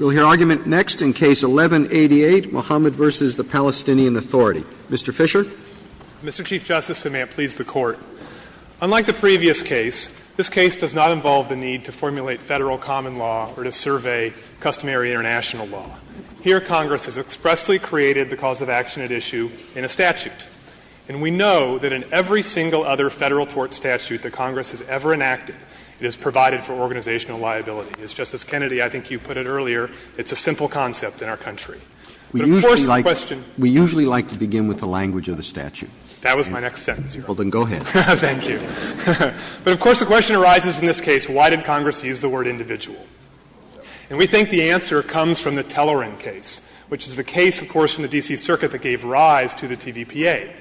We'll hear argument next in Case 11-88, Mohamad v. the Palestinian Authority. Mr. Fischer. Mr. Chief Justice, and may it please the Court, unlike the previous case, this case does not involve the need to formulate Federal common law or to survey customary international law. Here Congress has expressly created the cause of action at issue in a statute. And we know that in every single other Federal tort statute that Congress has ever enacted, it is provided for organizational liability. As Justice Kennedy, I think you put it earlier, it's a simple concept in our country. But of course the question We usually like to begin with the language of the statute. That was my next sentence. Well, then go ahead. Thank you. But of course the question arises in this case, why did Congress use the word individual? And we think the answer comes from the Telleran case, which is the case, of course, from the D.C. Circuit that gave rise to the TVPA.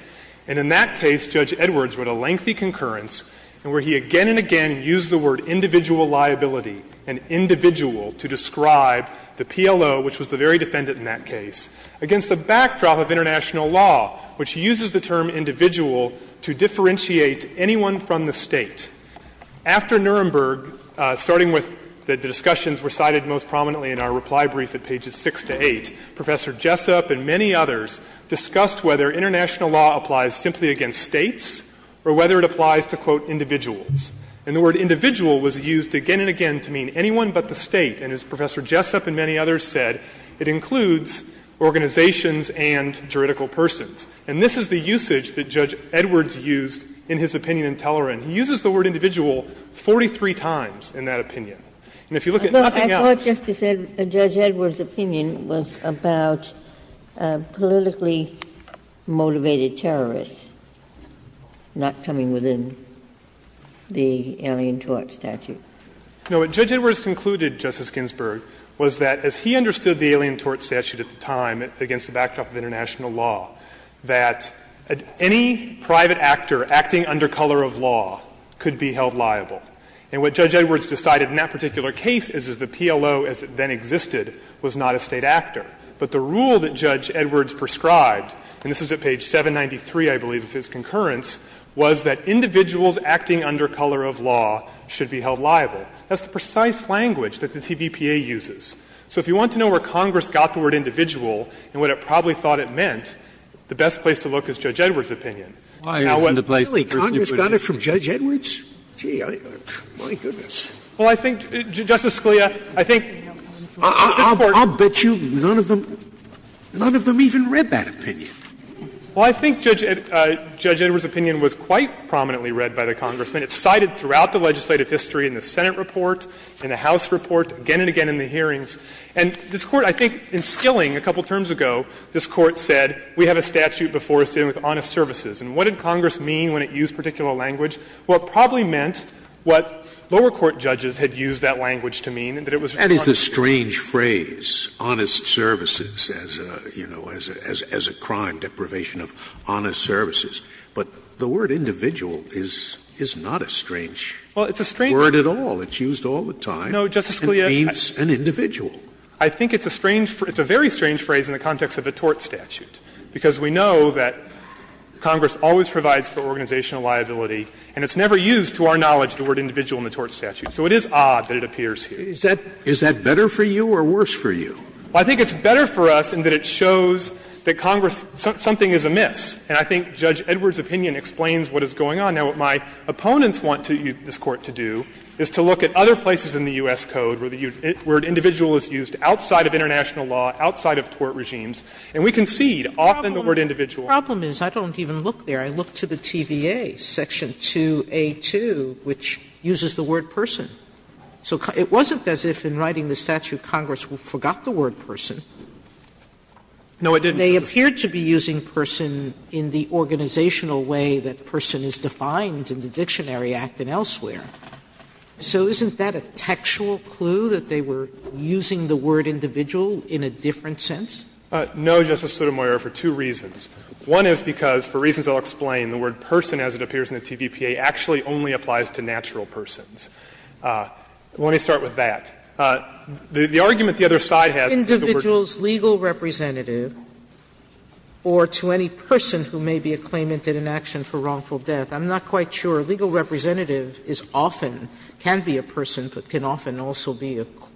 And in that case, Judge Edwards wrote a lengthy concurrence where he again and again used the word individual liability, an individual, to describe the PLO, which was the very defendant in that case, against the backdrop of international law, which uses the term individual to differentiate anyone from the State. After Nuremberg, starting with the discussions recited most prominently in our reply brief at pages 6 to 8, Professor Jessup and many others discussed whether international law applies simply against States or whether it applies to, quote, individuals. And the word individual was used again and again to mean anyone but the State. And as Professor Jessup and many others said, it includes organizations and juridical persons. And this is the usage that Judge Edwards used in his opinion in Telleran. He uses the word individual 43 times in that opinion. And if you look at nothing else Justice Sotomayor, I thought Judge Edwards' opinion was about politically motivated terrorists not coming within the alien tort statute. No. What Judge Edwards concluded, Justice Ginsburg, was that as he understood the alien tort statute at the time against the backdrop of international law, that any private actor acting under color of law could be held liable. And what Judge Edwards decided in that particular case is that the PLO as it then existed was not a State actor. But the rule that Judge Edwards prescribed, and this is at page 793, I believe, of his concurrence, was that individuals acting under color of law should be held liable. That's the precise language that the TVPA uses. So if you want to know where Congress got the word individual and what it probably thought it meant, the best place to look is Judge Edwards' opinion. Scalia, Congress got it from Judge Edwards? Gee, my goodness. Well, I think, Justice Scalia, I think this Court I'll bet you none of them, none of them even read that opinion. Well, I think Judge Edwards' opinion was quite prominently read by the Congressman. It's cited throughout the legislative history in the Senate report, in the House report, again and again in the hearings. And this Court, I think in Skilling a couple terms ago, this Court said we have a statute before us dealing with honest services. And what did Congress mean when it used particular language? Well, it probably meant what lower court judges had used that language to mean, that it was honest services. That is a strange phrase, honest services, as a, you know, as a crime deprivation of honest services. But the word individual is not a strange word at all. It's used all the time. No, Justice Scalia. It means an individual. I think it's a strange phrase. It's a very strange phrase in the context of a tort statute, because we know that it's an organizational liability, and it's never used, to our knowledge, the word individual in the tort statute. So it is odd that it appears here. Is that better for you or worse for you? Well, I think it's better for us in that it shows that Congress, something is amiss. And I think Judge Edwards' opinion explains what is going on. Now, what my opponents want this Court to do is to look at other places in the U.S. Code where the word individual is used outside of international law, outside of tort regimes, and we concede often the word individual. The problem is I don't even look there. I look to the TVA, section 2A2, which uses the word person. So it wasn't as if in writing the statute Congress forgot the word person. No, it didn't. They appeared to be using person in the organizational way that person is defined in the Dictionary Act and elsewhere. So isn't that a textual clue that they were using the word individual in a different sense? No, Justice Sotomayor, for two reasons. One is because, for reasons I'll explain, the word person, as it appears in the TVPA, actually only applies to natural persons. Let me start with that. The argument the other side has is that the word person is used in the Dictionary Act. Sotomayor, I'm not quite sure. A legal representative is often, can be a person, but can often also be a corporate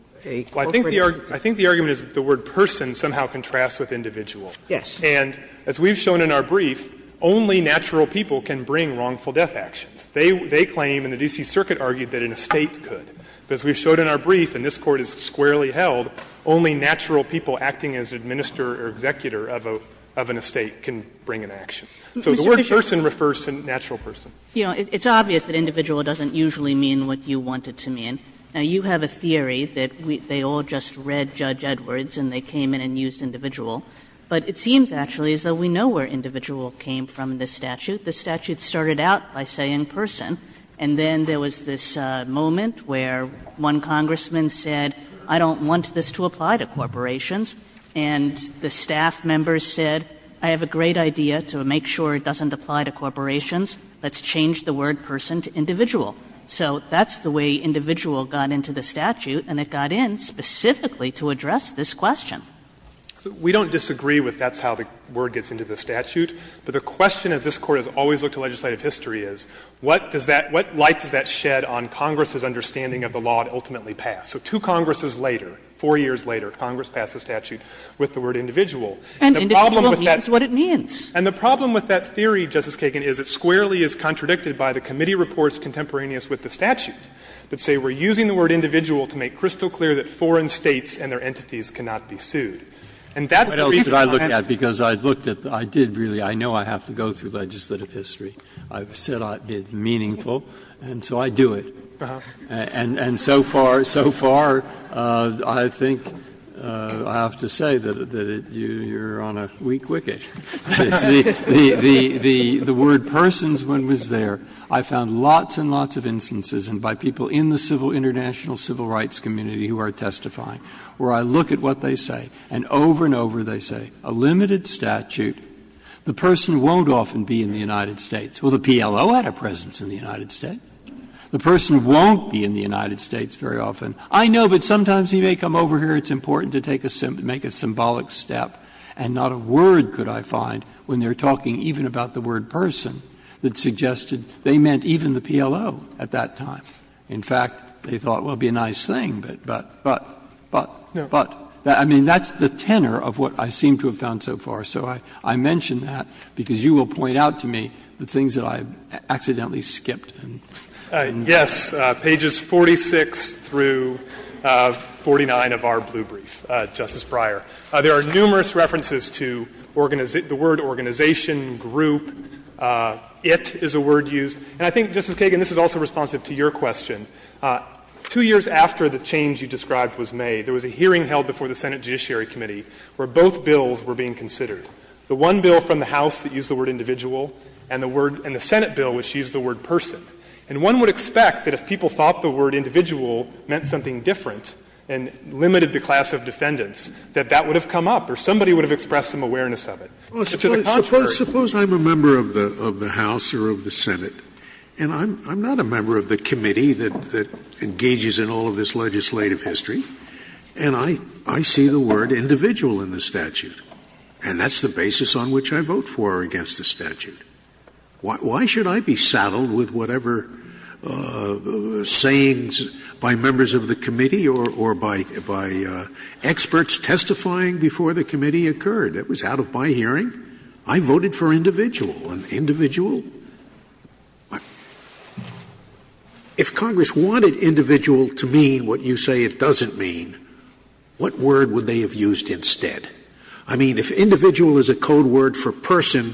entity. Well, I think the argument is that the word person somehow contrasts with individual. Yes. And as we've shown in our brief, only natural people can bring wrongful death actions. They claim, and the D.C. Circuit argued that an estate could. But as we've shown in our brief, and this Court has squarely held, only natural people acting as administrator or executor of an estate can bring an action. So the word person refers to natural person. It's obvious that individual doesn't usually mean what you want it to mean. Now, you have a theory that they all just read Judge Edwards and they came in and used individual, but it seems actually as though we know where individual came from in the statute. The statute started out by saying person, and then there was this moment where one congressman said, I don't want this to apply to corporations, and the staff members said, I have a great idea to make sure it doesn't apply to corporations, let's change the word person to individual. So that's the way individual got into the statute, and it got in specifically to address this question. We don't disagree with that's how the word gets into the statute, but the question as this Court has always looked to legislative history is, what does that – what light does that shed on Congress's understanding of the law to ultimately pass? So two Congresses later, four years later, Congress passed a statute with the word individual. And the problem with that theory, Justice Kagan, is it squarely is contradicted by the committee reports contemporaneous with the statute that say we're using the word individual to make crystal clear that foreign States and their entities cannot be sued. And that's the reason I'm interested in this case. Breyer. But I looked at it because I looked at it, I did really, I know I have to go through legislative history. I've said I did meaningful, and so I do it. And so far, so far, I think I have to say that you're on a weak wicket. The word persons, when it was there, I found lots and lots of instances, and by people in the civil international civil rights community who are testifying, where I look at what they say, and over and over they say, a limited statute, the person won't often be in the United States. Well, the PLO had a presence in the United States. The person won't be in the United States very often. I know, but sometimes he may come over here. It's important to take a symbolic step, and not a word could I find when they're talking even about the word person that suggested they meant even the PLO at that time. In fact, they thought, well, it would be a nice thing, but, but, but, but. I mean, that's the tenor of what I seem to have found so far. So I mention that because you will point out to me the things that I've accidentally skipped. Fisherman, yes, pages 46 through 49 of our blue brief, Justice Breyer. There are numerous references to the word organization, group, it is a word used. And I think, Justice Kagan, this is also responsive to your question. Two years after the change you described was made, there was a hearing held before the Senate Judiciary Committee where both bills were being considered. The one bill from the House that used the word individual and the word, and the Senate bill which used the word person. And one would expect that if people thought the word individual meant something different and limited the class of defendants, that that would have come up or somebody would have expressed some awareness of it. Suppose I'm a member of the House or of the Senate, and I'm not a member of the committee that engages in all of this legislative history, and I see the word individual in the statute. And that's the basis on which I vote for or against the statute. Why should I be saddled with whatever sayings by members of the committee or by experts testifying before the committee occurred? It was out of my hearing. I voted for individual. And individual? If Congress wanted individual to mean what you say it doesn't mean, what word would they have used instead? I mean, if individual is a code word for person,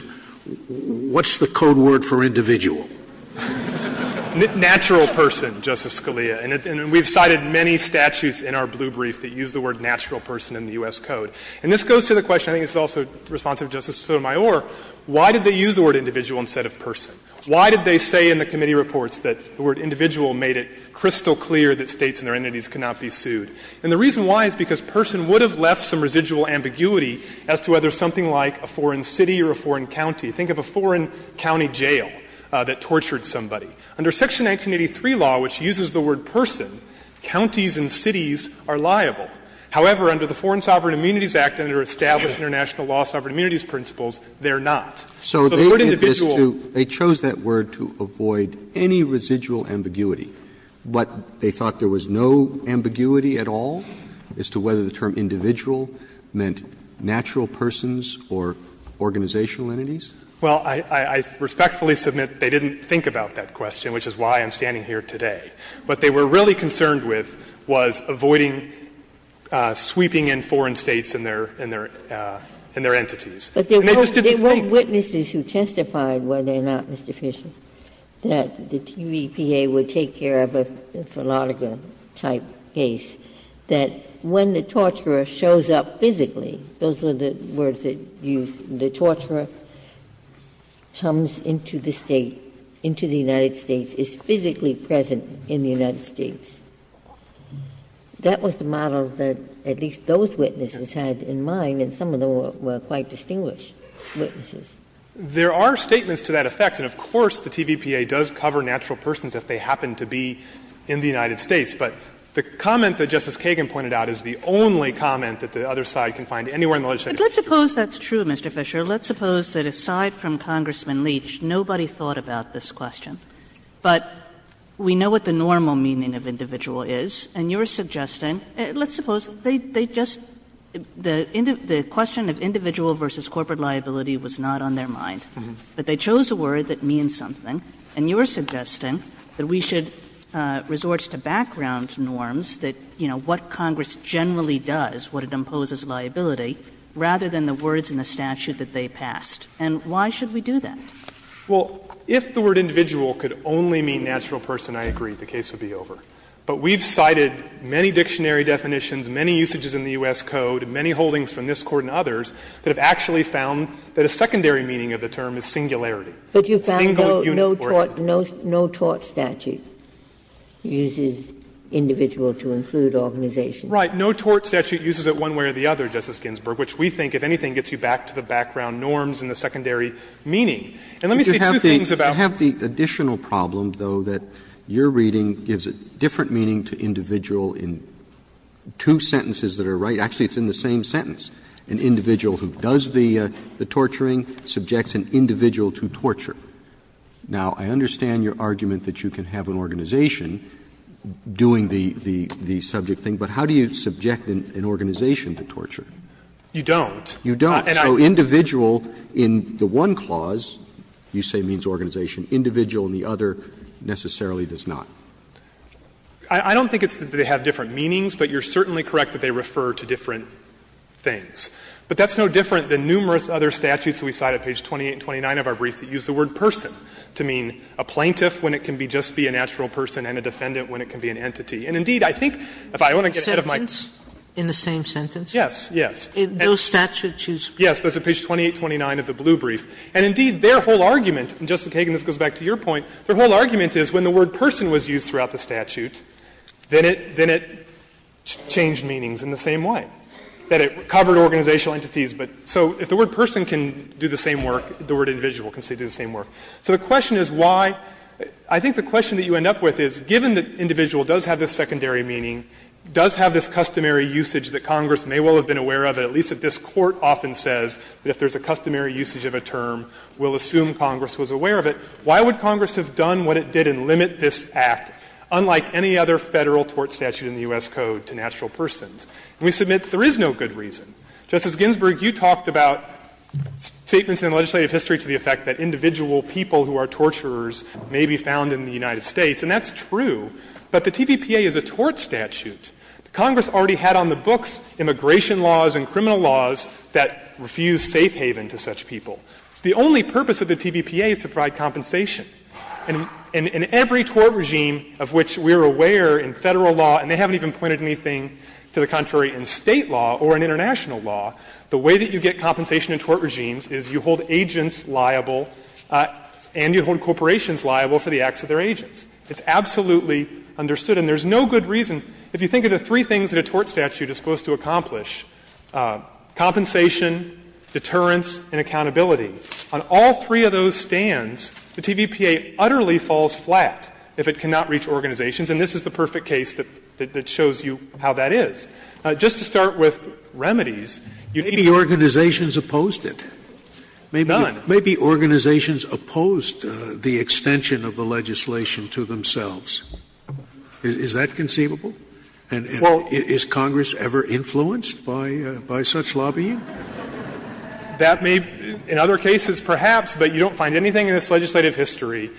what's the code word for individual? Fisherman, natural person, Justice Scalia. And we've cited many statutes in our blue brief that use the word natural person in the U.S. Code. And this goes to the question, I think it's also responsive to Justice Sotomayor, why did they use the word individual instead of person? Why did they say in the committee reports that the word individual made it crystal clear that States and their entities could not be sued? And the reason why is because person would have left some residual ambiguity as to whether something like a foreign city or a foreign county. Think of a foreign county jail that tortured somebody. Under Section 1983 law, which uses the word person, counties and cities are liable. However, under the Foreign Sovereign Immunities Act and under established international law sovereign immunities principles, they're not. So the word individual. Roberts, they chose that word to avoid any residual ambiguity, but they thought there was no ambiguity at all as to whether the term individual meant natural persons or organizational entities? Well, I respectfully submit they didn't think about that question, which is why I'm standing here today. What they were really concerned with was avoiding sweeping in foreign States and their entities. And they just didn't think. But there were witnesses who testified, were there not, Mr. Fisher, that the TVPA would take care of a philatelical-type case, that when the torturer shows up physically — those were the words they used — the torturer comes into the State, into the United States, is physically present in the United States. That was the model that at least those witnesses had in mind, and some of them were quite distinguished witnesses. There are statements to that effect, and of course, the TVPA does cover natural persons if they happen to be in the United States. But the comment that Justice Kagan pointed out is the only comment that the other side can find anywhere in the legislative history. But let's suppose that's true, Mr. Fisher. Let's suppose that aside from Congressman Leach, nobody thought about this question. But we know what the normal meaning of individual is, and you're suggesting — let's suppose they just — the question of individual versus corporate liability was not on their mind. But they chose a word that means something, and you're suggesting that we should resort to background norms that, you know, what Congress generally does, what it imposes liability, rather than the words in the statute that they passed. And why should we do that? Fisher, Well, if the word individual could only mean natural person, I agree, the case would be over. But we've cited many dictionary definitions, many usages in the U.S. Code, many holdings from this Court and others that have actually found that a secondary meaning of the Single, unique, or unique. Ginsburg. But you found no tort statute uses individual to include organization. Fisher. Right. No tort statute uses it one way or the other, Justice Ginsburg, which we think, if anything, gets you back to the background norms and the secondary meaning. And let me say two things about the other one. Roberts I have the additional problem, though, that your reading gives a different meaning to individual in two sentences that are right. Actually, it's in the same sentence. An individual who does the torturing subjects an individual to torture. Now, I understand your argument that you can have an organization doing the subject thing, but how do you subject an organization to torture? Fisher. You don't. Roberts You don't. So individual in the one clause, you say means organization. Individual in the other necessarily does not. Fisher I don't think it's that they have different meanings, but you're certainly correct that they refer to different things. But that's no different than numerous other statutes that we cite at page 28 and 29 of our brief that use the word person to mean a plaintiff when it can be just be a natural person and a defendant when it can be an entity. Sotomayor In the same sentence? Fisher Yes, yes. Sotomayor In those statutes you speak of? Fisher Yes, that's at page 28, 29 of the blue brief. And indeed, their whole argument, and, Justice Kagan, this goes back to your point, their whole argument is when the word person was used throughout the statute, then it changed meanings in the same way, that it covered organizational entities. So if the word person can do the same work, the word individual can do the same work. So the question is why — I think the question that you end up with is, given that individual does have this secondary meaning, does have this customary usage that Congress may well have been aware of, at least that this Court often says that if there's a customary usage of a term, we'll assume Congress was aware of it, why would Congress have done what it did and limit this act, unlike any other Federal tort statute in the U.S. Code, to natural persons? And we submit there is no good reason. Justice Ginsburg, you talked about statements in the legislative history to the effect that individual people who are torturers may be found in the United States, and that's true. But the TVPA is a tort statute. Congress already had on the books immigration laws and criminal laws that refuse safe haven to such people. The only purpose of the TVPA is to provide compensation. And in every tort regime of which we are aware in Federal law, and they haven't even pointed anything to the contrary in State law or in international law, the way that you get compensation in tort regimes is you hold agents liable and you hold corporations liable for the acts of their agents. It's absolutely understood. And there's no good reason, if you think of the three things that a tort statute is supposed to accomplish, compensation, deterrence and accountability, on all three of those stands, the TVPA utterly falls flat if it cannot reach organizations. And this is the perfect case that shows you how that is. Just to start with remedies, you need to be able to do that. Scalia. Maybe organizations opposed it. Maybe organizations opposed the extension of the legislation to themselves. Is that conceivable? And is Congress ever influenced by such lobbying? That may, in other cases perhaps, but you don't find anything in this legislative history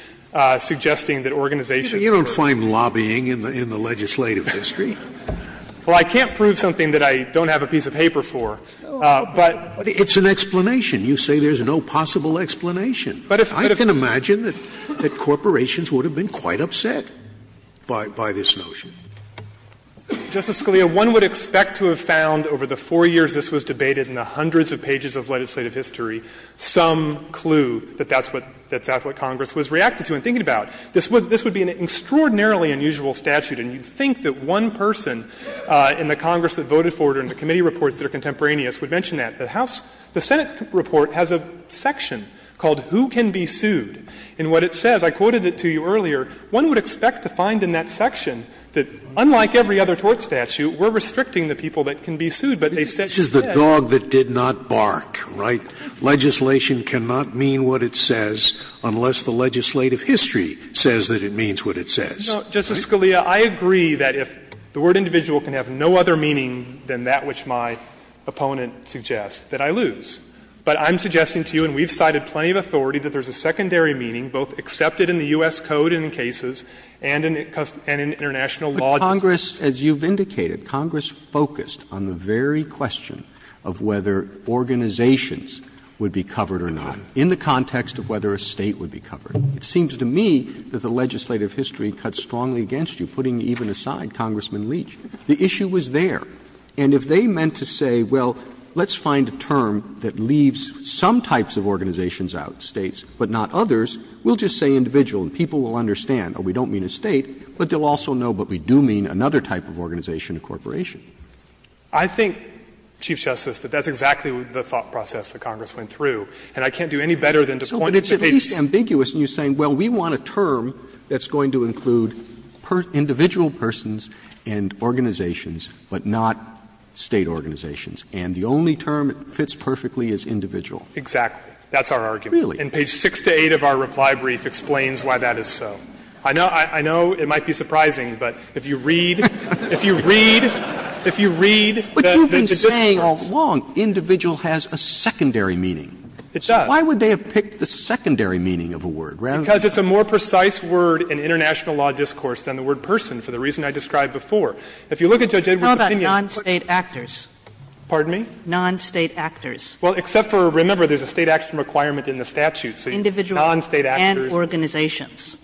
suggesting that organizations were opposed. You don't find lobbying in the legislative history. Well, I can't prove something that I don't have a piece of paper for, but. It's an explanation. You say there's no possible explanation. I can imagine that corporations would have been quite upset. By this notion. Justice Scalia, one would expect to have found over the four years this was debated in the hundreds of pages of legislative history some clue that that's what Congress was reacting to and thinking about. This would be an extraordinarily unusual statute, and you'd think that one person in the Congress that voted for it or in the committee reports that are contemporaneous would mention that. The Senate report has a section called who can be sued. And what it says, I quoted it to you earlier, one would expect to find in that section that unlike every other tort statute, we're restricting the people that can be sued, but they said that. Scalia, this is the dog that did not bark, right? Legislation cannot mean what it says unless the legislative history says that it means what it says. No, Justice Scalia, I agree that if the word individual can have no other meaning than that which my opponent suggests, that I lose. But I'm suggesting to you, and we've cited plenty of authority, that there's a secondary meaning both accepted in the U.S. Code in cases and in international law. Roberts But Congress, as you've indicated, Congress focused on the very question of whether organizations would be covered or not in the context of whether a State would be covered. It seems to me that the legislative history cuts strongly against you, putting even aside Congressman Leach. The issue was there. And if they meant to say, well, let's find a term that leaves some types of organizations out, States, but not others, we'll just say individual, and people will understand. We don't mean a State, but they'll also know what we do mean, another type of organization or corporation. I think, Chief Justice, that that's exactly the thought process that Congress went through, and I can't do any better than to point to the case. Roberts But it's at least ambiguous in your saying, well, we want a term that's going to include individual persons and organizations, but not State organizations. And the only term that fits perfectly is individual. Exactly. That's our argument. Really? And page 6 to 8 of our reply brief explains why that is so. I know it might be surprising, but if you read, if you read, if you read the distance. But you've been saying all along individual has a secondary meaning. It does. So why would they have picked the secondary meaning of a word, rather than the other? Well, I think, Chief Justice, I think there's a lot more to the international law discourse than the word person, for the reason I described before. If you look at Judge Edwards' opinion. How about non-State actors? Pardon me? Non-State actors. Well, except for, remember, there's a State action requirement in the statute. Individual. Non-State actors. And organizations.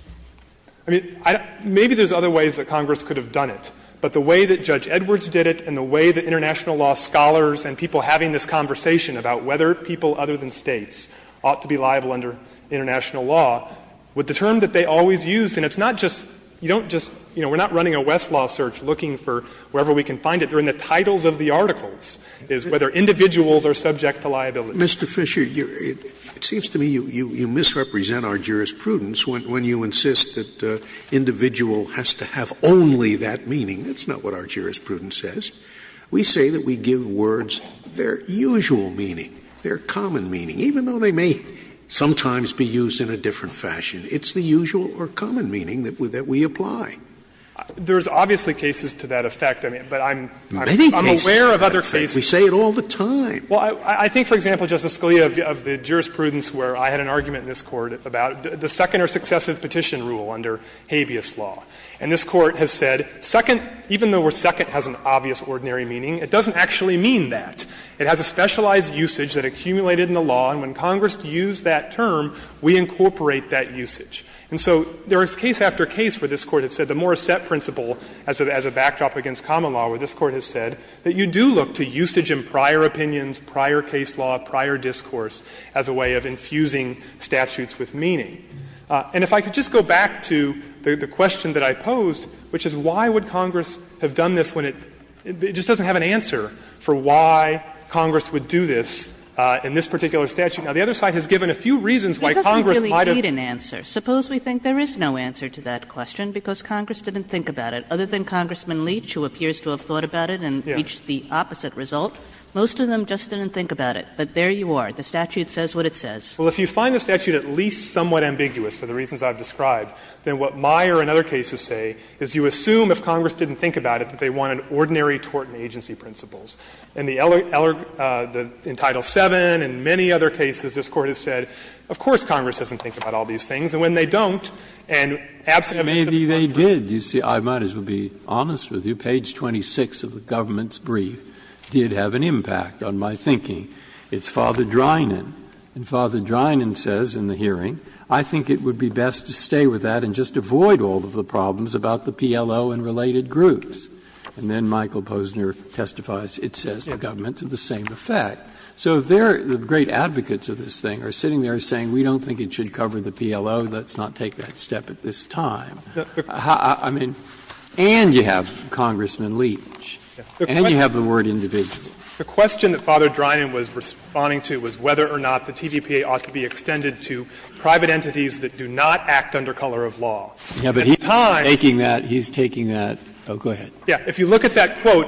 I mean, maybe there's other ways that Congress could have done it. But the way that Judge Edwards did it, and the way that international law scholars and people having this conversation about whether people other than States ought to be liable under international law, with the term that they always use, and it's not just, you don't just, you know, we're not running a Westlaw search looking for wherever we can find it. They're in the titles of the articles, is whether individuals are subject to liability. Mr. Fisher, it seems to me you misrepresent our jurisprudence when you insist that individual has to have only that meaning. That's not what our jurisprudence says. We say that we give words their usual meaning, their common meaning, even though they may sometimes be used in a different fashion. It's the usual or common meaning that we apply. There's obviously cases to that effect, but I'm aware of other cases. We say it all the time. Well, I think, for example, Justice Scalia, of the jurisprudence where I had an argument in this Court about the second or successive petition rule under habeas law. And this Court has said, second, even though the word second has an obvious ordinary meaning, it doesn't actually mean that. It has a specialized usage that accumulated in the law, and when Congress used that term, we incorporate that usage. And so there is case after case where this Court has said the Morrissette principle as a backdrop against common law, where this Court has said that you do look to usage in prior opinions, prior case law, prior discourse as a way of infusing statutes with meaning. And if I could just go back to the question that I posed, which is why would Congress have done this when it just doesn't have an answer for why Congress would do this in this particular statute. Now, the other side has given a few reasons why Congress might have. Kagan Suppose we think there is no answer to that question because Congress didn't think about it, other than Congressman Leach, who appears to have thought about it and reached the opposite result. Most of them just didn't think about it, but there you are. The statute says what it says. Well, if you find the statute at least somewhat ambiguous for the reasons I've described, then what Meyer and other cases say is you assume if Congress didn't think about it that they want an ordinary tort and agency principles. In the other, in Title VII and many other cases, this Court has said, of course Congress doesn't think about all these things, and when they don't, and absent the principle of tort. Breyer Maybe they did. You see, I might as well be honest with you. Page 26 of the government's brief did have an impact on my thinking. It's Father Drinan. And Father Drinan says in the hearing, I think it would be best to stay with that and just avoid all of the problems about the PLO and related groups. And then Michael Posner testifies, it says the government, to the same effect. So there, the great advocates of this thing are sitting there saying, we don't think it should cover the PLO, let's not take that step at this time. I mean, and you have Congressman Leach, and you have the word individual. The question that Father Drinan was responding to was whether or not the TVPA ought to be extended to private entities that do not act under color of law. At the time. Breyer He's taking that. Oh, go ahead. Fisher If you look at that quote,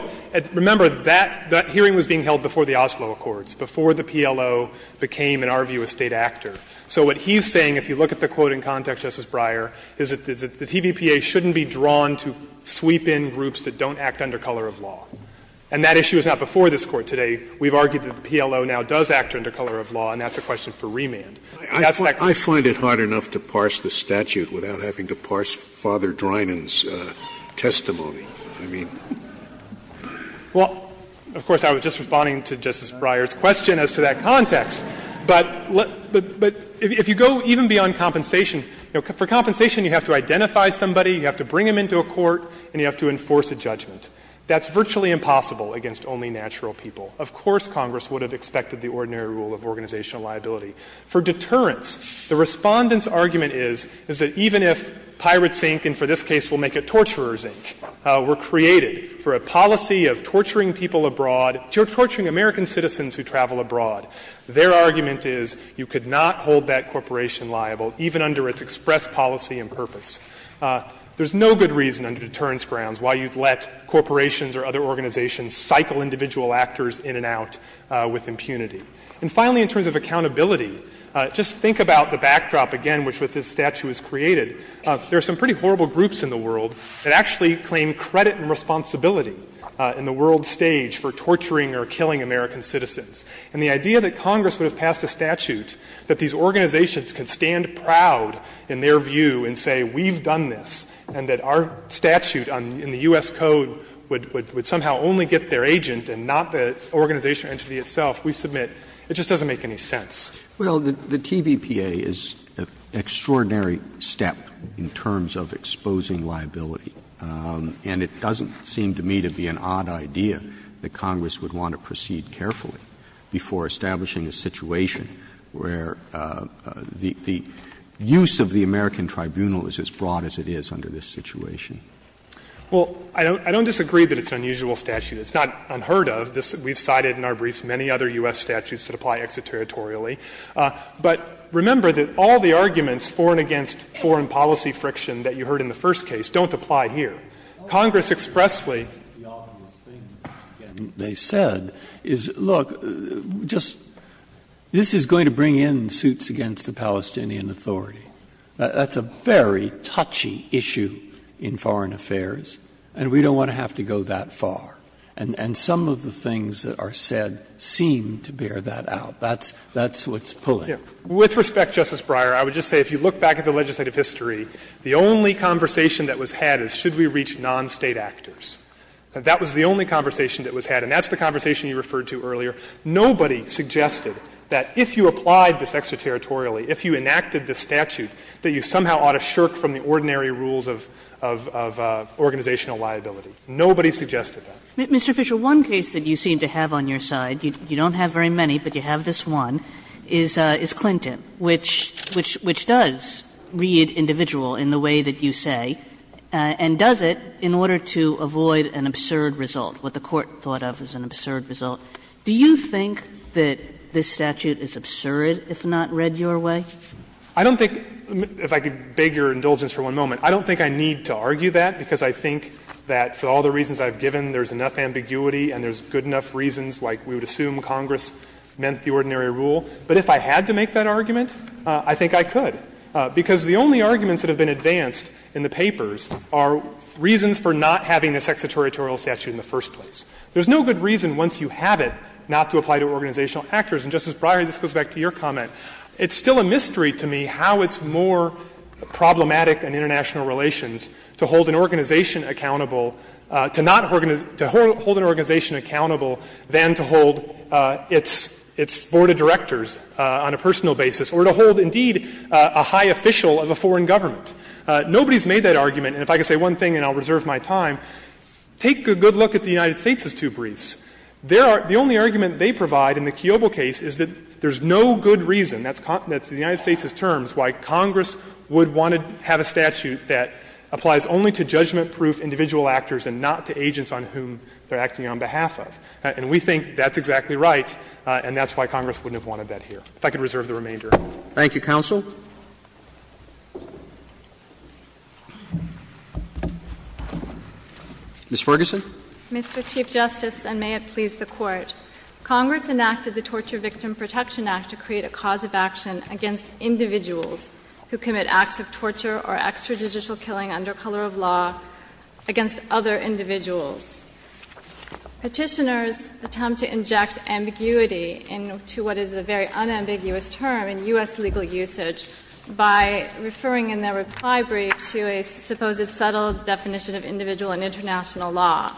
remember that hearing was being held before the Oslo Accords, before the PLO became, in our view, a State actor. So what he's saying, if you look at the quote in context, Justice Breyer, is that the TVPA shouldn't be drawn to sweep in groups that don't act under color of law. And that issue is not before this Court today. We've argued that the PLO now does act under color of law, and that's a question for remand. That's that question. Scalia I find it hard enough to parse the statute without having to parse Father Drinan's testimony. I mean. Fisher Well, of course, I was just responding to Justice Breyer's question as to that context. But if you go even beyond compensation, for compensation you have to identify somebody, you have to bring them into a court, and you have to enforce a judgment. That's virtually impossible against only natural people. Of course Congress would have expected the ordinary rule of organizational liability. For deterrence, the Respondent's argument is, is that even if Pirate Zinc, and for this case we'll make it Torturer Zinc, were created for a policy of torturing people abroad, torturing American citizens who travel abroad, their argument is you could not hold that corporation liable, even under its express policy and purpose. There's no good reason under deterrence grounds why you'd let corporations or other organizations cycle individual actors in and out with impunity. And finally, in terms of accountability, just think about the backdrop again which with this statute was created. There are some pretty horrible groups in the world that actually claim credit and responsibility in the world stage for torturing or killing American citizens. And the idea that Congress would have passed a statute that these organizations could stand proud in their view and say, we've done this, and that our statute in the U.S. Code would somehow only get their agent and not the organizational entity itself, we submit, it just doesn't make any sense. Roberts. Well, the TVPA is an extraordinary step in terms of exposing liability. And it doesn't seem to me to be an odd idea that Congress would want to proceed carefully before establishing a situation where the use of the American tribunal is as broad as it is under this situation. Well, I don't disagree that it's an unusual statute. It's not unheard of. We've cited in our briefs many other U.S. statutes that apply extraterritorially. But remember that all the arguments for and against foreign policy friction that you heard in the first case don't apply here. Congress expressly. Breyer, the obvious thing they said is, look, just this is going to bring in suits against the Palestinian Authority. That's a very touchy issue in foreign affairs, and we don't want to have to go that far. And some of the things that are said seem to bear that out. That's what's pulling. With respect, Justice Breyer, I would just say if you look back at the legislative history, the only conversation that was had is should we reach non-State actors. That was the only conversation that was had, and that's the conversation you referred to earlier. Nobody suggested that if you applied this extraterritorially, if you enacted this statute, that you somehow ought to shirk from the ordinary rules of organizational liability. Nobody suggested that. Kagan. Kagan. Mr. Fisher, one case that you seem to have on your side, you don't have very many, but you have this one, is Clinton, which does read individual in the way that you say, and does it in order to avoid an absurd result, what the Court thought of as an absurd result. Do you think that this statute is absurd if not read your way? Fisher. I don't think — if I could beg your indulgence for one moment, I don't think I need to argue that, because I think that for all the reasons I've given, there's enough ambiguity and there's good enough reasons, like we would assume Congress meant the ordinary rule. But if I had to make that argument, I think I could, because the only arguments that have been advanced in the papers are reasons for not having this exegetorial statute in the first place. There's no good reason, once you have it, not to apply to organizational actors. And, Justice Breyer, this goes back to your comment. It's still a mystery to me how it's more problematic in international relations to hold an organization accountable to not — to hold an organization accountable than to hold its board of directors on a personal basis, or to hold, indeed, a high official of a foreign government. Nobody's made that argument. And if I could say one thing, and I'll reserve my time, take a good look at the United States' two briefs. There are — the only argument they provide in the Kiobel case is that there's no good reason, that's the United States' terms, why Congress would want to have a statute that applies only to judgment-proof individual actors and not to agents on whom they're acting on behalf of. And we think that's exactly right, and that's why Congress wouldn't have wanted that here. If I could reserve the remainder. Roberts. Thank you, counsel. Ms. Ferguson. Mr. Chief Justice, and may it please the Court. Congress enacted the Torture Victim Protection Act to create a cause of action against individuals who commit acts of torture or extrajudicial killing under color of law against other individuals. Petitioners attempt to inject ambiguity into what is a very unambiguous term in the U.S. legal usage by referring in their reply brief to a supposed subtle definition of individual in international law.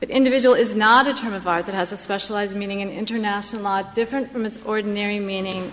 But individual is not a term of art that has a specialized meaning in international law different from its ordinary meaning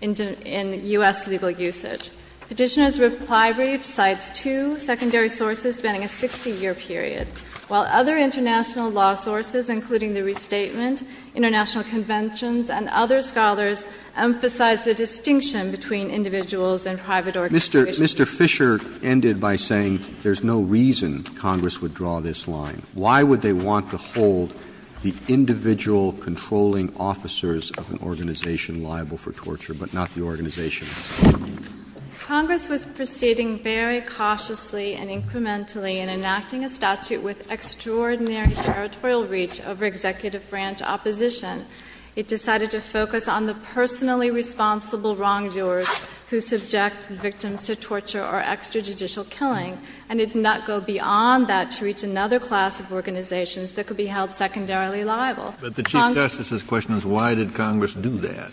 in U.S. legal usage. Petitioners' reply brief cites two secondary sources spanning a 60-year period, while other international law sources, including the Restatement, international conventions, and other scholars, emphasize the distinction between individuals and private organizations. Mr. Fisher ended by saying there's no reason Congress would draw this line. Why would they want to hold the individual controlling officers of an organization liable for torture, but not the organization itself? Congress was proceeding very cautiously and incrementally in enacting a statute with extraordinary territorial reach over executive branch opposition. It decided to focus on the personally responsible wrongdoers who subject victims to torture or extrajudicial killing, and it did not go beyond that to reach another class of organizations that could be held secondarily liable. But the Chief Justice's question is why did Congress do that?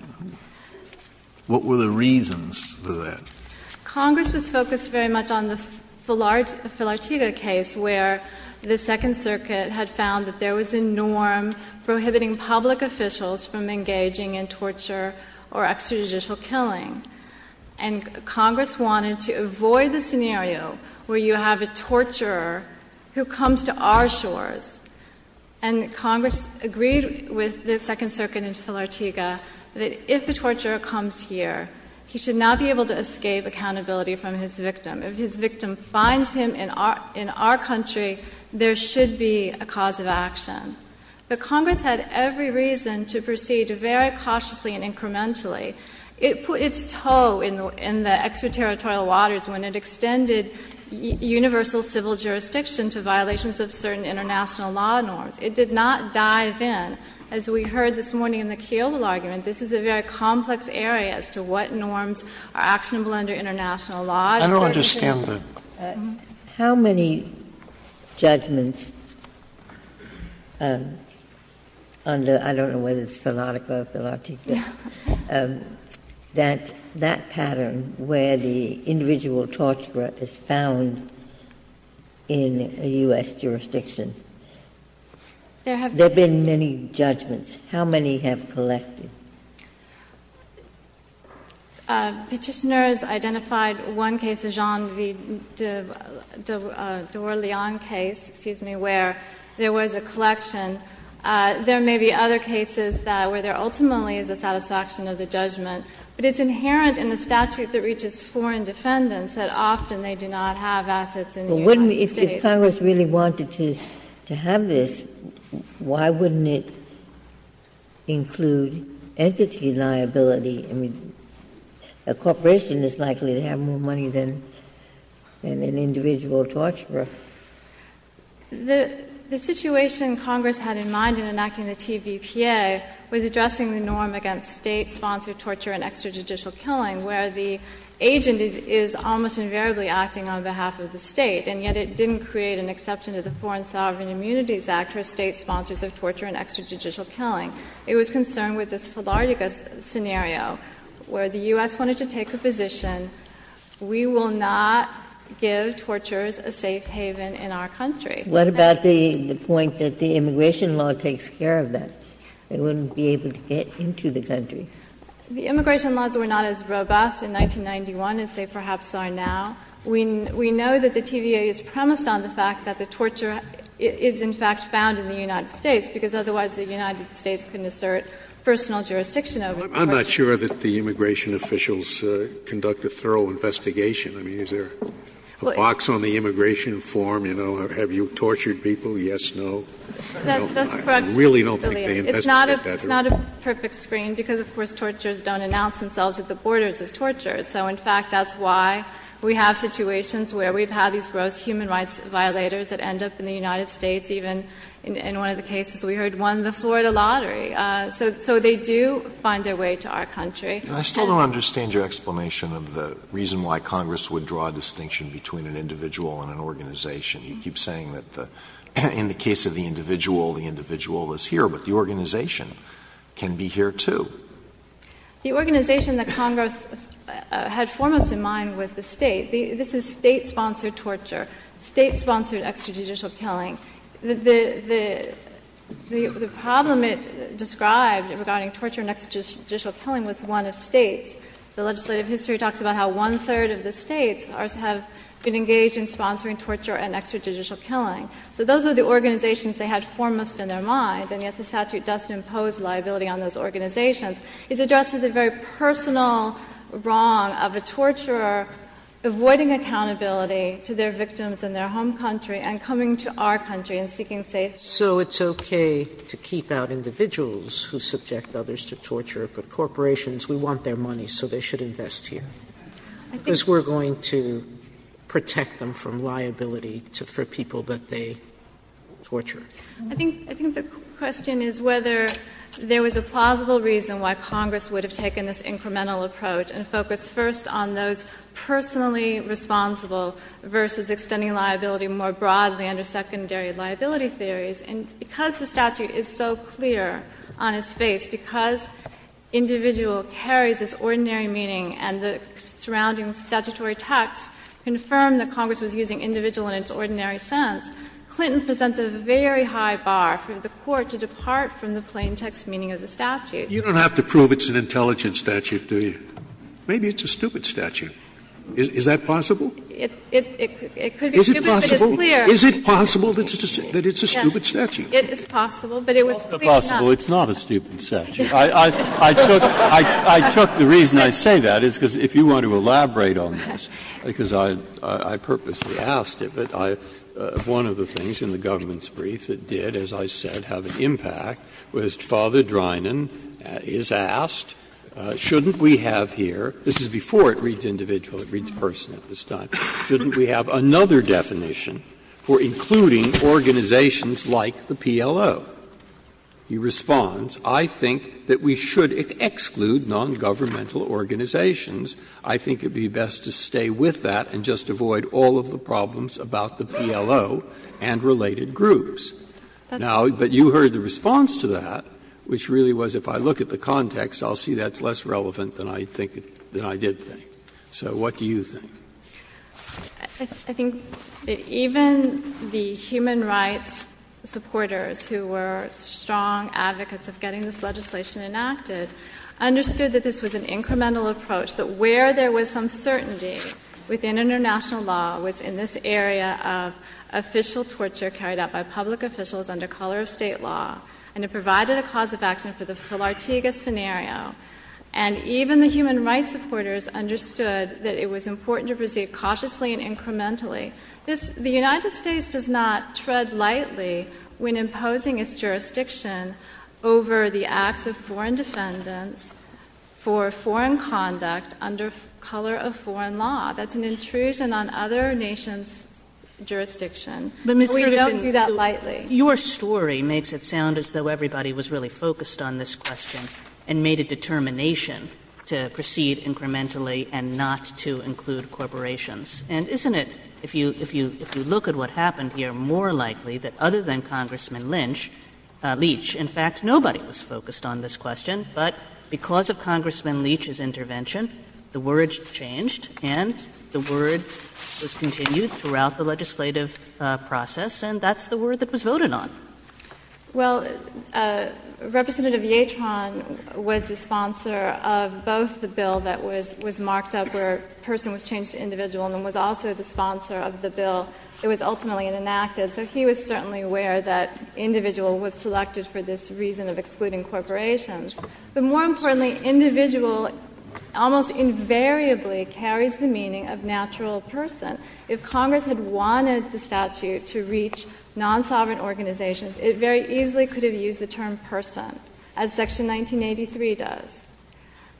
What were the reasons for that? Congress was focused very much on the Filartiga case, where the Second Circuit had found that there was a norm prohibiting public officials from engaging in torture or extrajudicial killing, and Congress wanted to avoid the scenario where you have a torturer who comes to our shores. And Congress agreed with the Second Circuit in Filartiga that if the torturer comes here, he should not be able to escape accountability from his victim. If his victim finds him in our country, there should be a cause of action. But Congress had every reason to proceed very cautiously and incrementally. It put its toe in the extraterritorial waters when it extended universal civil jurisdiction to violations of certain international law norms. It did not dive in. As we heard this morning in the Keogh argument, this is a very complex area as to what norms are actionable under international law. Sotomayor, I don't understand the question. How many judgments under, I don't know whether it's Filartiga or Filartiga, that that pattern where the individual torturer is found in a U.S. jurisdiction? There have been many judgments. How many have collected? Petitioners identified one case, the Jean V. de Orleans case, excuse me, where there was a collection. There may be other cases where there ultimately is a satisfaction of the judgment. But it's inherent in a statute that reaches foreign defendants that often they do not have assets in the United States. Ginsburg-McCarthy If Congress really wanted to have this, why wouldn't it include entity liability? I mean, a corporation is likely to have more money than an individual torturer. The situation Congress had in mind in enacting the TVPA was addressing the norm against State-sponsored torture and extrajudicial killing, where the agent is almost invariably acting on behalf of the State. And yet it didn't create an exception to the Foreign Sovereign Immunities Act for State-sponsors of torture and extrajudicial killing. It was concerned with this Filartiga scenario, where the U.S. wanted to take a position, we will not give torturers a safe haven in our country. Ginsburg-McCarthy What about the point that the immigration law takes care of that? They wouldn't be able to get into the country. The immigration laws were not as robust in 1991 as they perhaps are now. We know that the TVPA is premised on the fact that the torture is in fact found in the United States, because otherwise the United States couldn't assert personal jurisdiction over it. Scalia I'm not sure that the immigration officials conduct a thorough investigation. I mean, is there a box on the immigration form, you know, have you tortured people, yes, no? I really don't think they investigate that very well. Ginsburg-McCarthy It's not a perfect screen, because, of course, torturers don't announce themselves at the borders as torturers. So, in fact, that's why we have situations where we've had these gross human rights violators that end up in the United States, even in one of the cases we heard won the Florida lottery. So they do find their way to our country. Alito I still don't understand your explanation of the reason why Congress would draw a distinction between an individual and an organization. You keep saying that in the case of the individual, the individual is here, but the organization can be here, too. The organization that Congress had foremost in mind was the State. This is State-sponsored torture, State-sponsored extrajudicial killing. The problem it described regarding torture and extrajudicial killing was one of States. The legislative history talks about how one-third of the States have been engaged in sponsoring torture and extrajudicial killing. So those are the organizations they had foremost in their mind, and yet the statute doesn't impose liability on those organizations. It's addressing the very personal wrong of a torturer avoiding accountability to their victims in their home country and coming to our country and seeking safety. Sotomayor So it's okay to keep out individuals who subject others to torture, but corporations we want their money, so they should invest here? Because we're going to protect them from liability for people that they torture. I think the question is whether there was a plausible reason why Congress would have taken this incremental approach and focused first on those personally responsible versus extending liability more broadly under secondary liability theories. And because the statute is so clear on its face, because individual carries this ordinary meaning and the surrounding statutory text confirmed that Congress was using individual in its ordinary sense, Clinton presents a very high bar for the Court to depart from the plain text meaning of the statute. Scalia You don't have to prove it's an intelligent statute, do you? Maybe it's a stupid statute. Is that possible? Sotomayor It could be stupid, but it's clear. Scalia Is it possible that it's a stupid statute? Sotomayor It is possible, but it was clear enough. Breyer It's not a stupid statute. I took the reason I say that is because if you want to elaborate on this, because I purposely asked it, but one of the things in the government's brief that did, as I said, have an impact was Father Drinan is asked, shouldn't we have here — this is before it reads individual, it reads person at this time — shouldn't we have another definition for including organizations like the PLO? He responds, I think that we should exclude nongovernmental organizations. I think it would be best to stay with that and just avoid all of the problems about the PLO and related groups. Now, but you heard the response to that, which really was if I look at the context, I'll see that's less relevant than I think — than I did think. So what do you think? Sotomayor I think that even the human rights supporters who were strong advocates of getting this legislation enacted understood that this was an incremental approach, that where there was some certainty within international law was in this area of official torture carried out by public officials under color of state law, and it provided a cause of action for the Philartigas scenario. And even the human rights supporters understood that it was important to proceed cautiously and incrementally. This — the United States does not tread lightly when imposing its jurisdiction over the acts of foreign defendants for foreign conduct under color of foreign law. That's an intrusion on other nations' jurisdiction. But we don't do that lightly. Kagan Your story makes it sound as though everybody was really focused on this question and made a determination to proceed incrementally and not to include corporations. And isn't it, if you look at what happened here, more likely that other than Congressman Lynch — Leach — in fact, nobody was focused on this question, but because of Congressman Leach's intervention, the word changed and the word was continued throughout the legislative process, and that's the word that was voted on. Sotomayor Well, Representative Yatron was the sponsor of both the bill that was marked up where person was changed to individual and was also the sponsor of the bill that was ultimately enacted. So he was certainly aware that individual was selected for this reason of excluding corporations. But more importantly, individual almost invariably carries the meaning of natural person. If Congress had wanted the statute to reach non-sovereign organizations, it very easily could have used the term person, as Section 1983 does.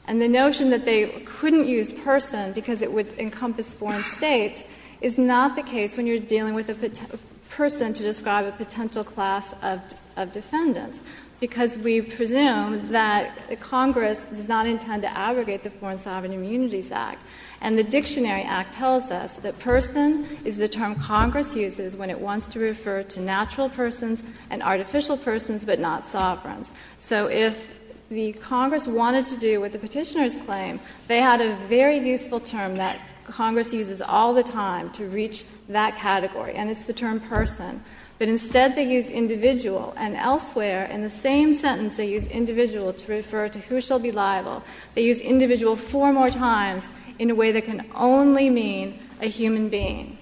And the notion that they couldn't use person because it would encompass foreign States is not the case when you're dealing with a person to describe a potential class of defendants, because we presume that Congress does not intend to abrogate the Foreign Sovereign Immunities Act. And the Dictionary Act tells us that person is the term Congress uses when it wants to refer to natural persons and artificial persons, but not sovereigns. So if the Congress wanted to do what the Petitioners claim, they had a very useful term that Congress uses all the time to reach that category, and it's the term person. But instead, they used individual. And elsewhere, in the same sentence, they used individual to refer to who shall be liable. They used individual four more times in a way that can only mean a human being.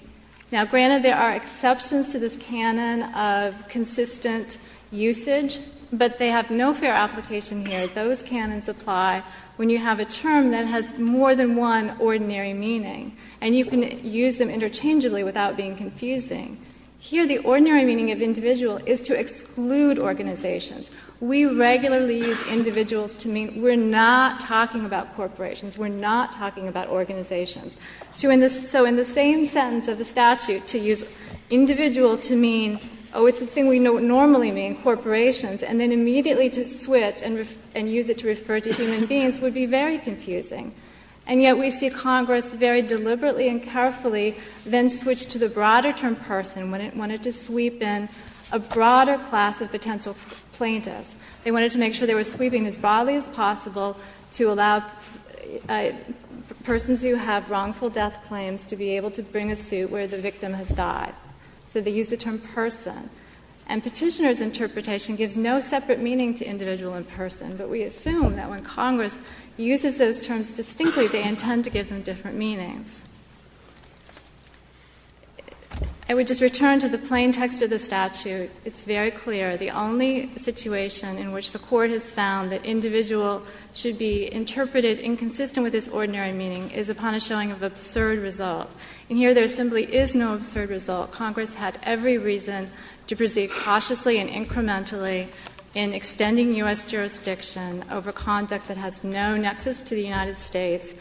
Now, granted, there are exceptions to this canon of consistent usage, but they have no fair application here. Those canons apply when you have a term that has more than one ordinary meaning, and you can use them interchangeably without being confusing. Here, the ordinary meaning of individual is to exclude organizations. We regularly use individuals to mean we're not talking about corporations, we're not talking about organizations. So in the same sentence of the statute, to use individual to mean, oh, it's the thing we normally mean, corporations, and then immediately to switch and use it to refer to human beings would be very confusing. And yet we see Congress very deliberately and carefully then switch to the broader term person when it wanted to sweep in a broader class of potential plaintiffs. They wanted to make sure they were sweeping as broadly as possible to allow persons who have wrongful death claims to be able to bring a suit where the victim has died. So they used the term person. And Petitioner's interpretation gives no separate meaning to individual and person, but we assume that when Congress uses those terms distinctly, they intend to give them different meanings. I would just return to the plain text of the statute. It's very clear. The only situation in which the Court has found that individual should be interpreted inconsistent with this ordinary meaning is upon a showing of absurd result. And here there simply is no absurd result. Congress had every reason to proceed cautiously and incrementally in extending U.S. jurisdiction over conduct that has no nexus to the United States,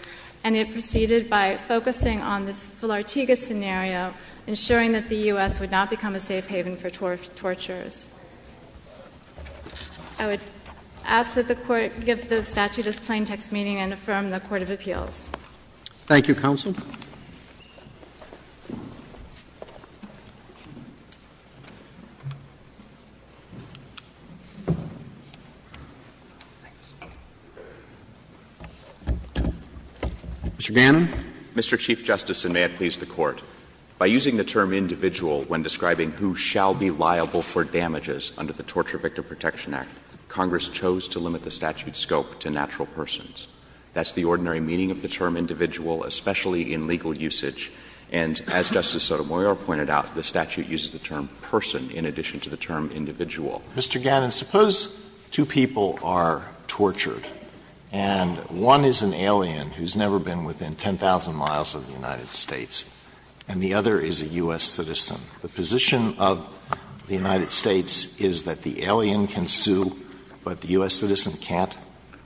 and it proceeded by focusing on the Filartigas scenario, ensuring that the U.S. would not become a safe haven for torturers. I would ask that the Court give the statute its plain text meaning and affirm the court of appeals. Roberts. Thank you, counsel. Mr. Gannon. Mr. Gannon, suppose two people are tortured, and one is an alien who has never been within 10,000 miles of the United States. And the other is a U.S. citizen. The position of the United States is that the alien can sue, but the U.S. citizen can't?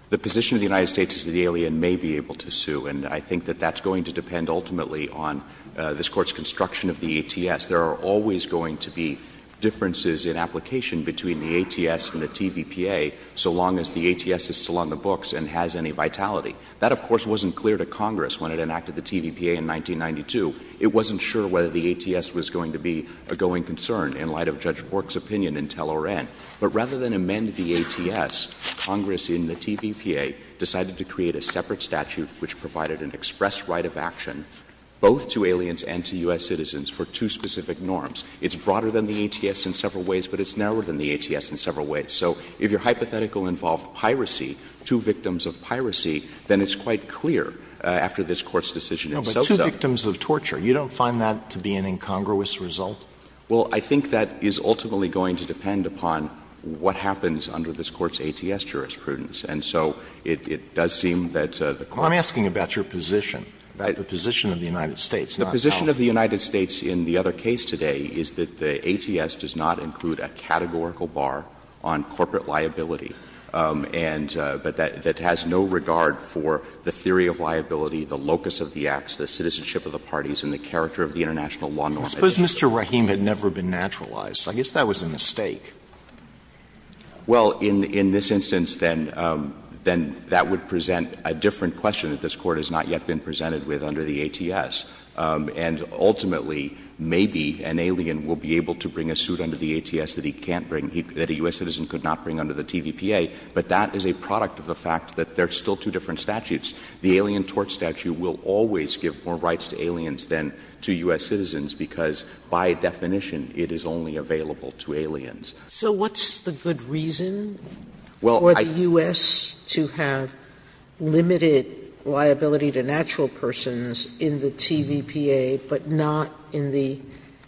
The position of the United States is that the alien may be able to sue, and I think that that's going to depend ultimately on this Court's construction of the ATS. There are always going to be differences in application between the ATS and the TVPA so long as the ATS is still on the books and has any vitality. That, of course, wasn't clear to Congress when it enacted the TVPA in 1992. It wasn't sure whether the ATS was going to be a going concern in light of Judge Fork's opinion in Tell-O-Ren. But rather than amend the ATS, Congress in the TVPA decided to create a separate statute which provided an express right of action both to aliens and to U.S. citizens for two specific norms. It's broader than the ATS in several ways, but it's narrower than the ATS in several ways. So if your hypothetical involved piracy, two victims of piracy, then it's quite clear after this Court's decision itself. But two victims of torture, you don't find that to be an incongruous result? Well, I think that is ultimately going to depend upon what happens under this Court's ATS jurisprudence. And so it does seem that the Court's position of the United States in the other case today is that the ATS does not include a categorical bar on corporate liability and that has no regard for the theory of liability, the locus of the acts, the citizenship of the parties, and the character of the international law norm. I suppose Mr. Rahim had never been naturalized. I guess that was a mistake. Well, in this instance, then that would present a different question that this Court has not yet been presented with under the ATS. And ultimately, maybe an alien will be able to bring a suit under the ATS that he can't bring, that a U.S. citizen could not bring under the TVPA. But that is a product of the fact that there are still two different statutes. The Alien Tort Statute will always give more rights to aliens than to U.S. citizens because by definition it is only available to aliens. So what's the good reason for the U.S. to have limited liability to natural persons in the TVPA, but not in the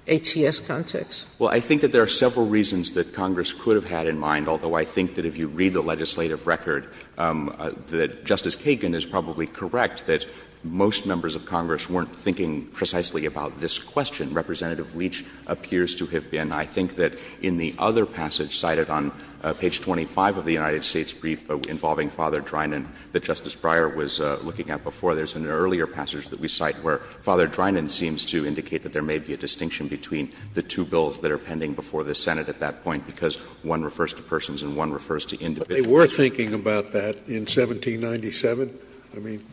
ATS context? Well, I think that there are several reasons that Congress could have had in mind, although I think that if you read the legislative record, that Justice Kagan is probably correct that most members of Congress weren't thinking precisely about this question. Representative Leach appears to have been. And I think that in the other passage cited on page 25 of the United States brief involving Father Drinan that Justice Breyer was looking at before, there's an earlier passage that we cite where Father Drinan seems to indicate that there may be a distinction between the two bills that are pending before the Senate at that point, because one refers to persons and one refers to individuals. But they were thinking about that in 1797? I mean,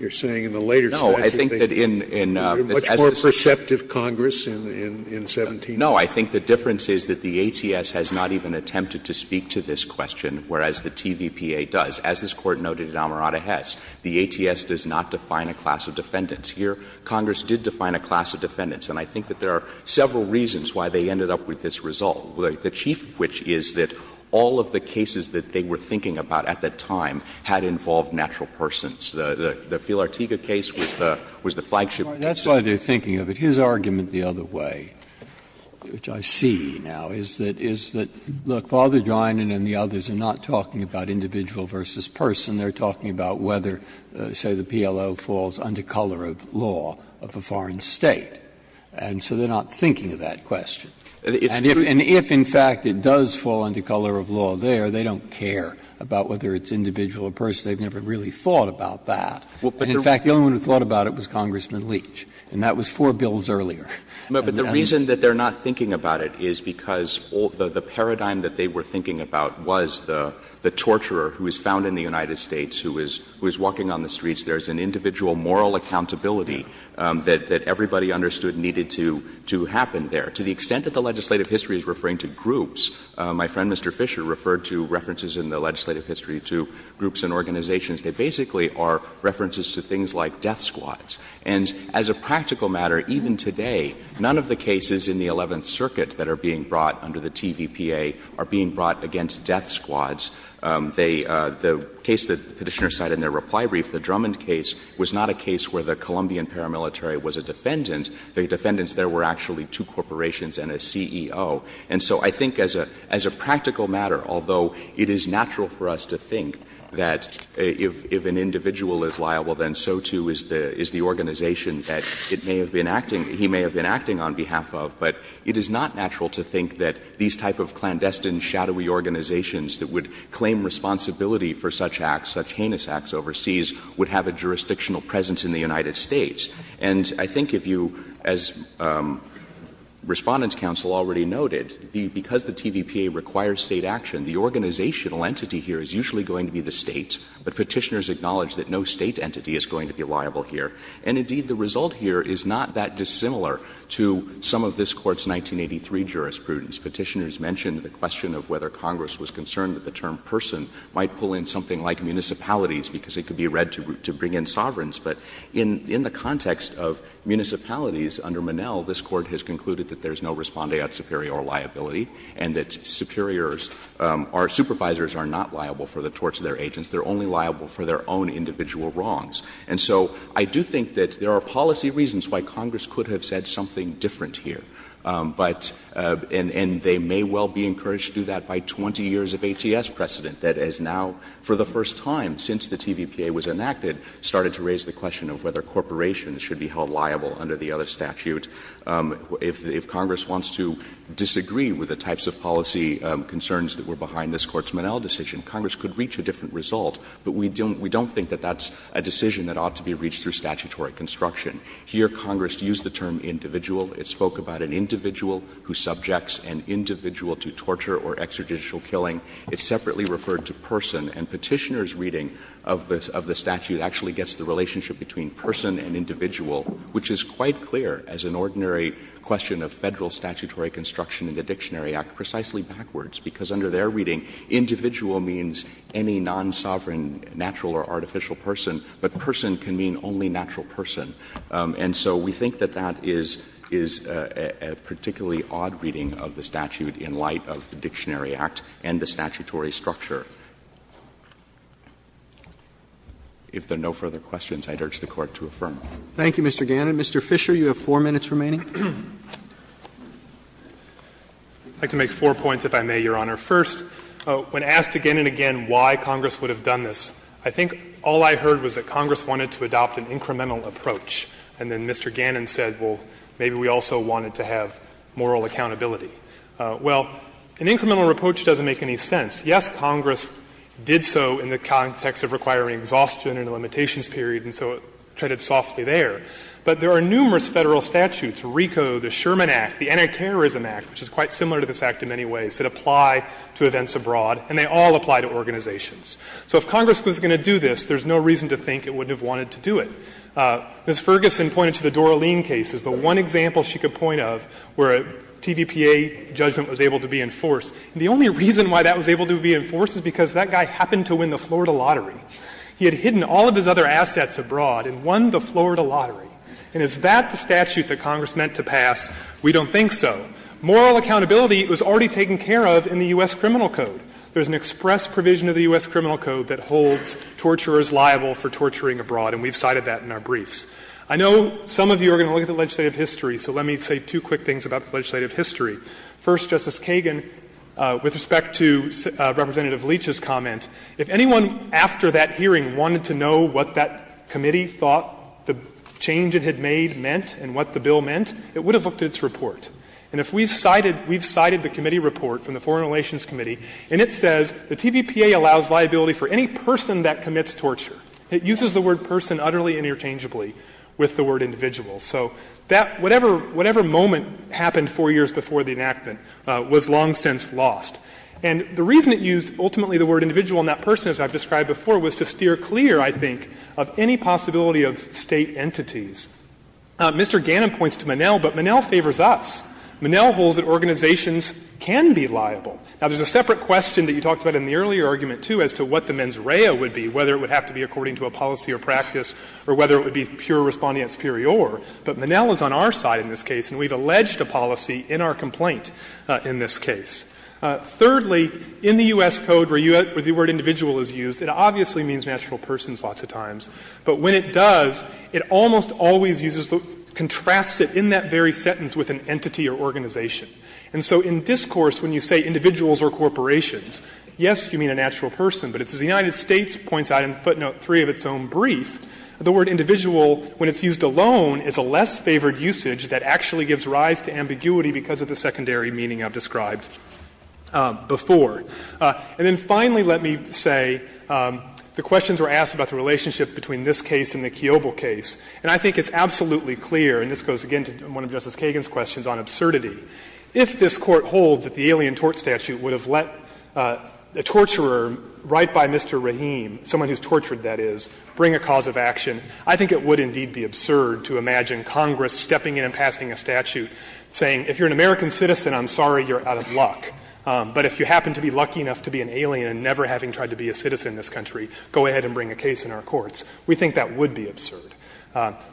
you're saying in the later statute they didn't. No. I think that in as this is. Much more perceptive Congress in 1797. No. I think the difference is that the ATS has not even attempted to speak to this question, whereas the TVPA does. As this Court noted in Amarada Hess, the ATS does not define a class of defendants. Here, Congress did define a class of defendants. And I think that there are several reasons why they ended up with this result, the chief of which is that all of the cases that they were thinking about at that time had involved natural persons. The Phil Artiga case was the flagship. Breyer, that's why they're thinking of it. His argument the other way, which I see now, is that, is that, look, Father Drinan and the others are not talking about individual versus person. They're talking about whether, say, the PLO falls under color of law of a foreign State. And so they're not thinking of that question. And if in fact it does fall under color of law there, they don't care about whether it's individual or person. They've never really thought about that. And in fact, the only one who thought about it was Congressman Leach. And that was four bills earlier. But the reason that they're not thinking about it is because the paradigm that they were thinking about was the torturer who is found in the United States, who is walking on the streets. There's an individual moral accountability that everybody understood needed to happen there. To the extent that the legislative history is referring to groups, my friend Mr. Fisher referred to references in the legislative history to groups and organizations. They basically are references to things like death squads. And as a practical matter, even today, none of the cases in the Eleventh Circuit that are being brought under the TVPA are being brought against death squads. They — the case that Petitioner cited in their reply brief, the Drummond case, was not a case where the Colombian paramilitary was a defendant. The defendants there were actually two corporations and a CEO. And so I think as a — as a practical matter, although it is natural for us to think that if an individual is liable, then so, too, is the — is the organization that it may have been acting — he may have been acting on behalf of. But it is not natural to think that these type of clandestine, shadowy organizations that would claim responsibility for such acts, such heinous acts overseas, would have a jurisdictional presence in the United States. And I think if you — as Respondents' counsel already noted, the — because the TVPA requires State action, the organizational entity here is usually going to be the State. But Petitioners acknowledge that no State entity is going to be liable here. And, indeed, the result here is not that dissimilar to some of this Court's 1983 jurisprudence. Petitioners mentioned the question of whether Congress was concerned that the term person might pull in something like municipalities because it could be read to bring in sovereigns. But in — in the context of municipalities under Monell, this Court has concluded that there is no respondeat superior liability and that superiors are — supervisors are not liable for the torts of their agents. They are only liable for their own individual wrongs. And so I do think that there are policy reasons why Congress could have said something different here. But — and they may well be encouraged to do that by 20 years of ATS precedent that has now, for the first time since the TVPA was enacted, started to raise the question of whether corporations should be held liable under the other statute. If Congress wants to disagree with the types of policy concerns that were behind this Court's Monell decision, Congress could reach a different result. But we don't — we don't think that that's a decision that ought to be reached through statutory construction. Here, Congress used the term individual. It spoke about an individual who subjects an individual to torture or extrajudicial killing. It separately referred to person. And Petitioner's reading of the — of the statute actually gets the relationship between person and individual, which is quite clear as an ordinary question of Federal statutory construction in the Dictionary Act, precisely backwards, because under their reading, individual means any non-sovereign natural or artificial person, but person can mean only natural person. And so we think that that is — is a particularly odd reading of the statute in light of the Dictionary Act and the statutory structure. If there are no further questions, I'd urge the Court to affirm. Roberts. Thank you, Mr. Gannon. Mr. Fisher, you have four minutes remaining. I'd like to make four points, if I may, Your Honor. First, when asked again and again why Congress would have done this, I think all I heard was that Congress wanted to adopt an incremental approach, and then Mr. Gannon said, well, maybe we also wanted to have moral accountability. Well, an incremental approach doesn't make any sense. Yes, Congress did so in the context of requiring exhaustion and a limitations period, and so it treaded softly there. But there are numerous Federal statutes, RICO, the Sherman Act, the Antiterrorism Act, which is quite similar to this Act in many ways, that apply to events abroad, and they all apply to organizations. So if Congress was going to do this, there's no reason to think it wouldn't have wanted to do it. Ms. Ferguson pointed to the Doralene case as the one example she could point of where a TVPA judgment was able to be enforced. And the only reason why that was able to be enforced is because that guy happened to win the Florida lottery. He had hidden all of his other assets abroad and won the Florida lottery. And is that the statute that Congress meant to pass? We don't think so. Moral accountability was already taken care of in the U.S. Criminal Code. There's an express provision of the U.S. Criminal Code that holds torturers liable for torturing abroad, and we've cited that in our briefs. I know some of you are going to look at the legislative history, so let me say two quick things about the legislative history. First, Justice Kagan, with respect to Representative Leach's comment, if anyone after that hearing wanted to know what that committee thought the change it had made meant and what the bill meant, it would have looked at its report. And if we cited the committee report from the Foreign Relations Committee, and it says the TVPA allows liability for any person that commits torture. It uses the word person utterly interchangeably with the word individual. So that whatever moment happened four years before the enactment was long since lost. And the reason it used ultimately the word individual and that person, as I've described before, was to steer clear, I think, of any possibility of State entities. Mr. Gannon points to Monell, but Monell favors us. Monell holds that organizations can be liable. Now, there's a separate question that you talked about in the earlier argument, too, as to what the mens rea would be, whether it would have to be according to a policy or practice or whether it would be pure respondeat superior. But Monell is on our side in this case, and we've alleged a policy in our complaint in this case. Thirdly, in the U.S. Code where the word individual is used, it obviously means natural persons lots of times. But when it does, it almost always uses the — contrasts it in that very sentence with an entity or organization. And so in discourse, when you say individuals or corporations, yes, you mean a natural person, but it's as the United States points out in footnote 3 of its own brief, the word individual, when it's used alone, is a less favored usage that actually gives rise to ambiguity because of the secondary meaning I've described before. And then finally, let me say the questions were asked about the relationship between this case and the Kiobel case. And I think it's absolutely clear, and this goes again to one of Justice Kagan's questions on absurdity. If this Court holds that the Alien Tort Statute would have let a torturer, right by Mr. Rahim, someone who's tortured, that is, bring a cause of action, I think it would indeed be absurd to imagine Congress stepping in and passing a statute saying, if you're an American citizen, I'm sorry, you're out of luck. But if you happen to be lucky enough to be an alien and never having tried to be a citizen in this country, go ahead and bring a case in our courts. We think that would be absurd.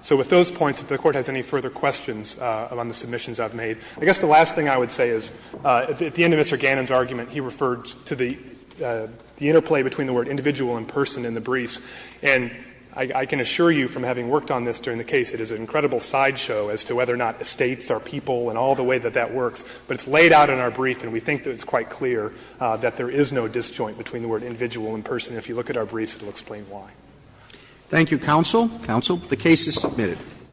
So with those points, if the Court has any further questions on the submissions I've made, I guess the last thing I would say is at the end of Mr. Gannon's argument, he referred to the interplay between the word individual and person in the briefs. And I can assure you from having worked on this during the case, it is an incredible sideshow as to whether or not Estates are people and all the way that that works. But it's laid out in our brief, and we think that it's quite clear that there is no disjoint between the word individual and person. If you look at our briefs, it will explain why. Roberts. Thank you, counsel. Counsel, the case is submitted.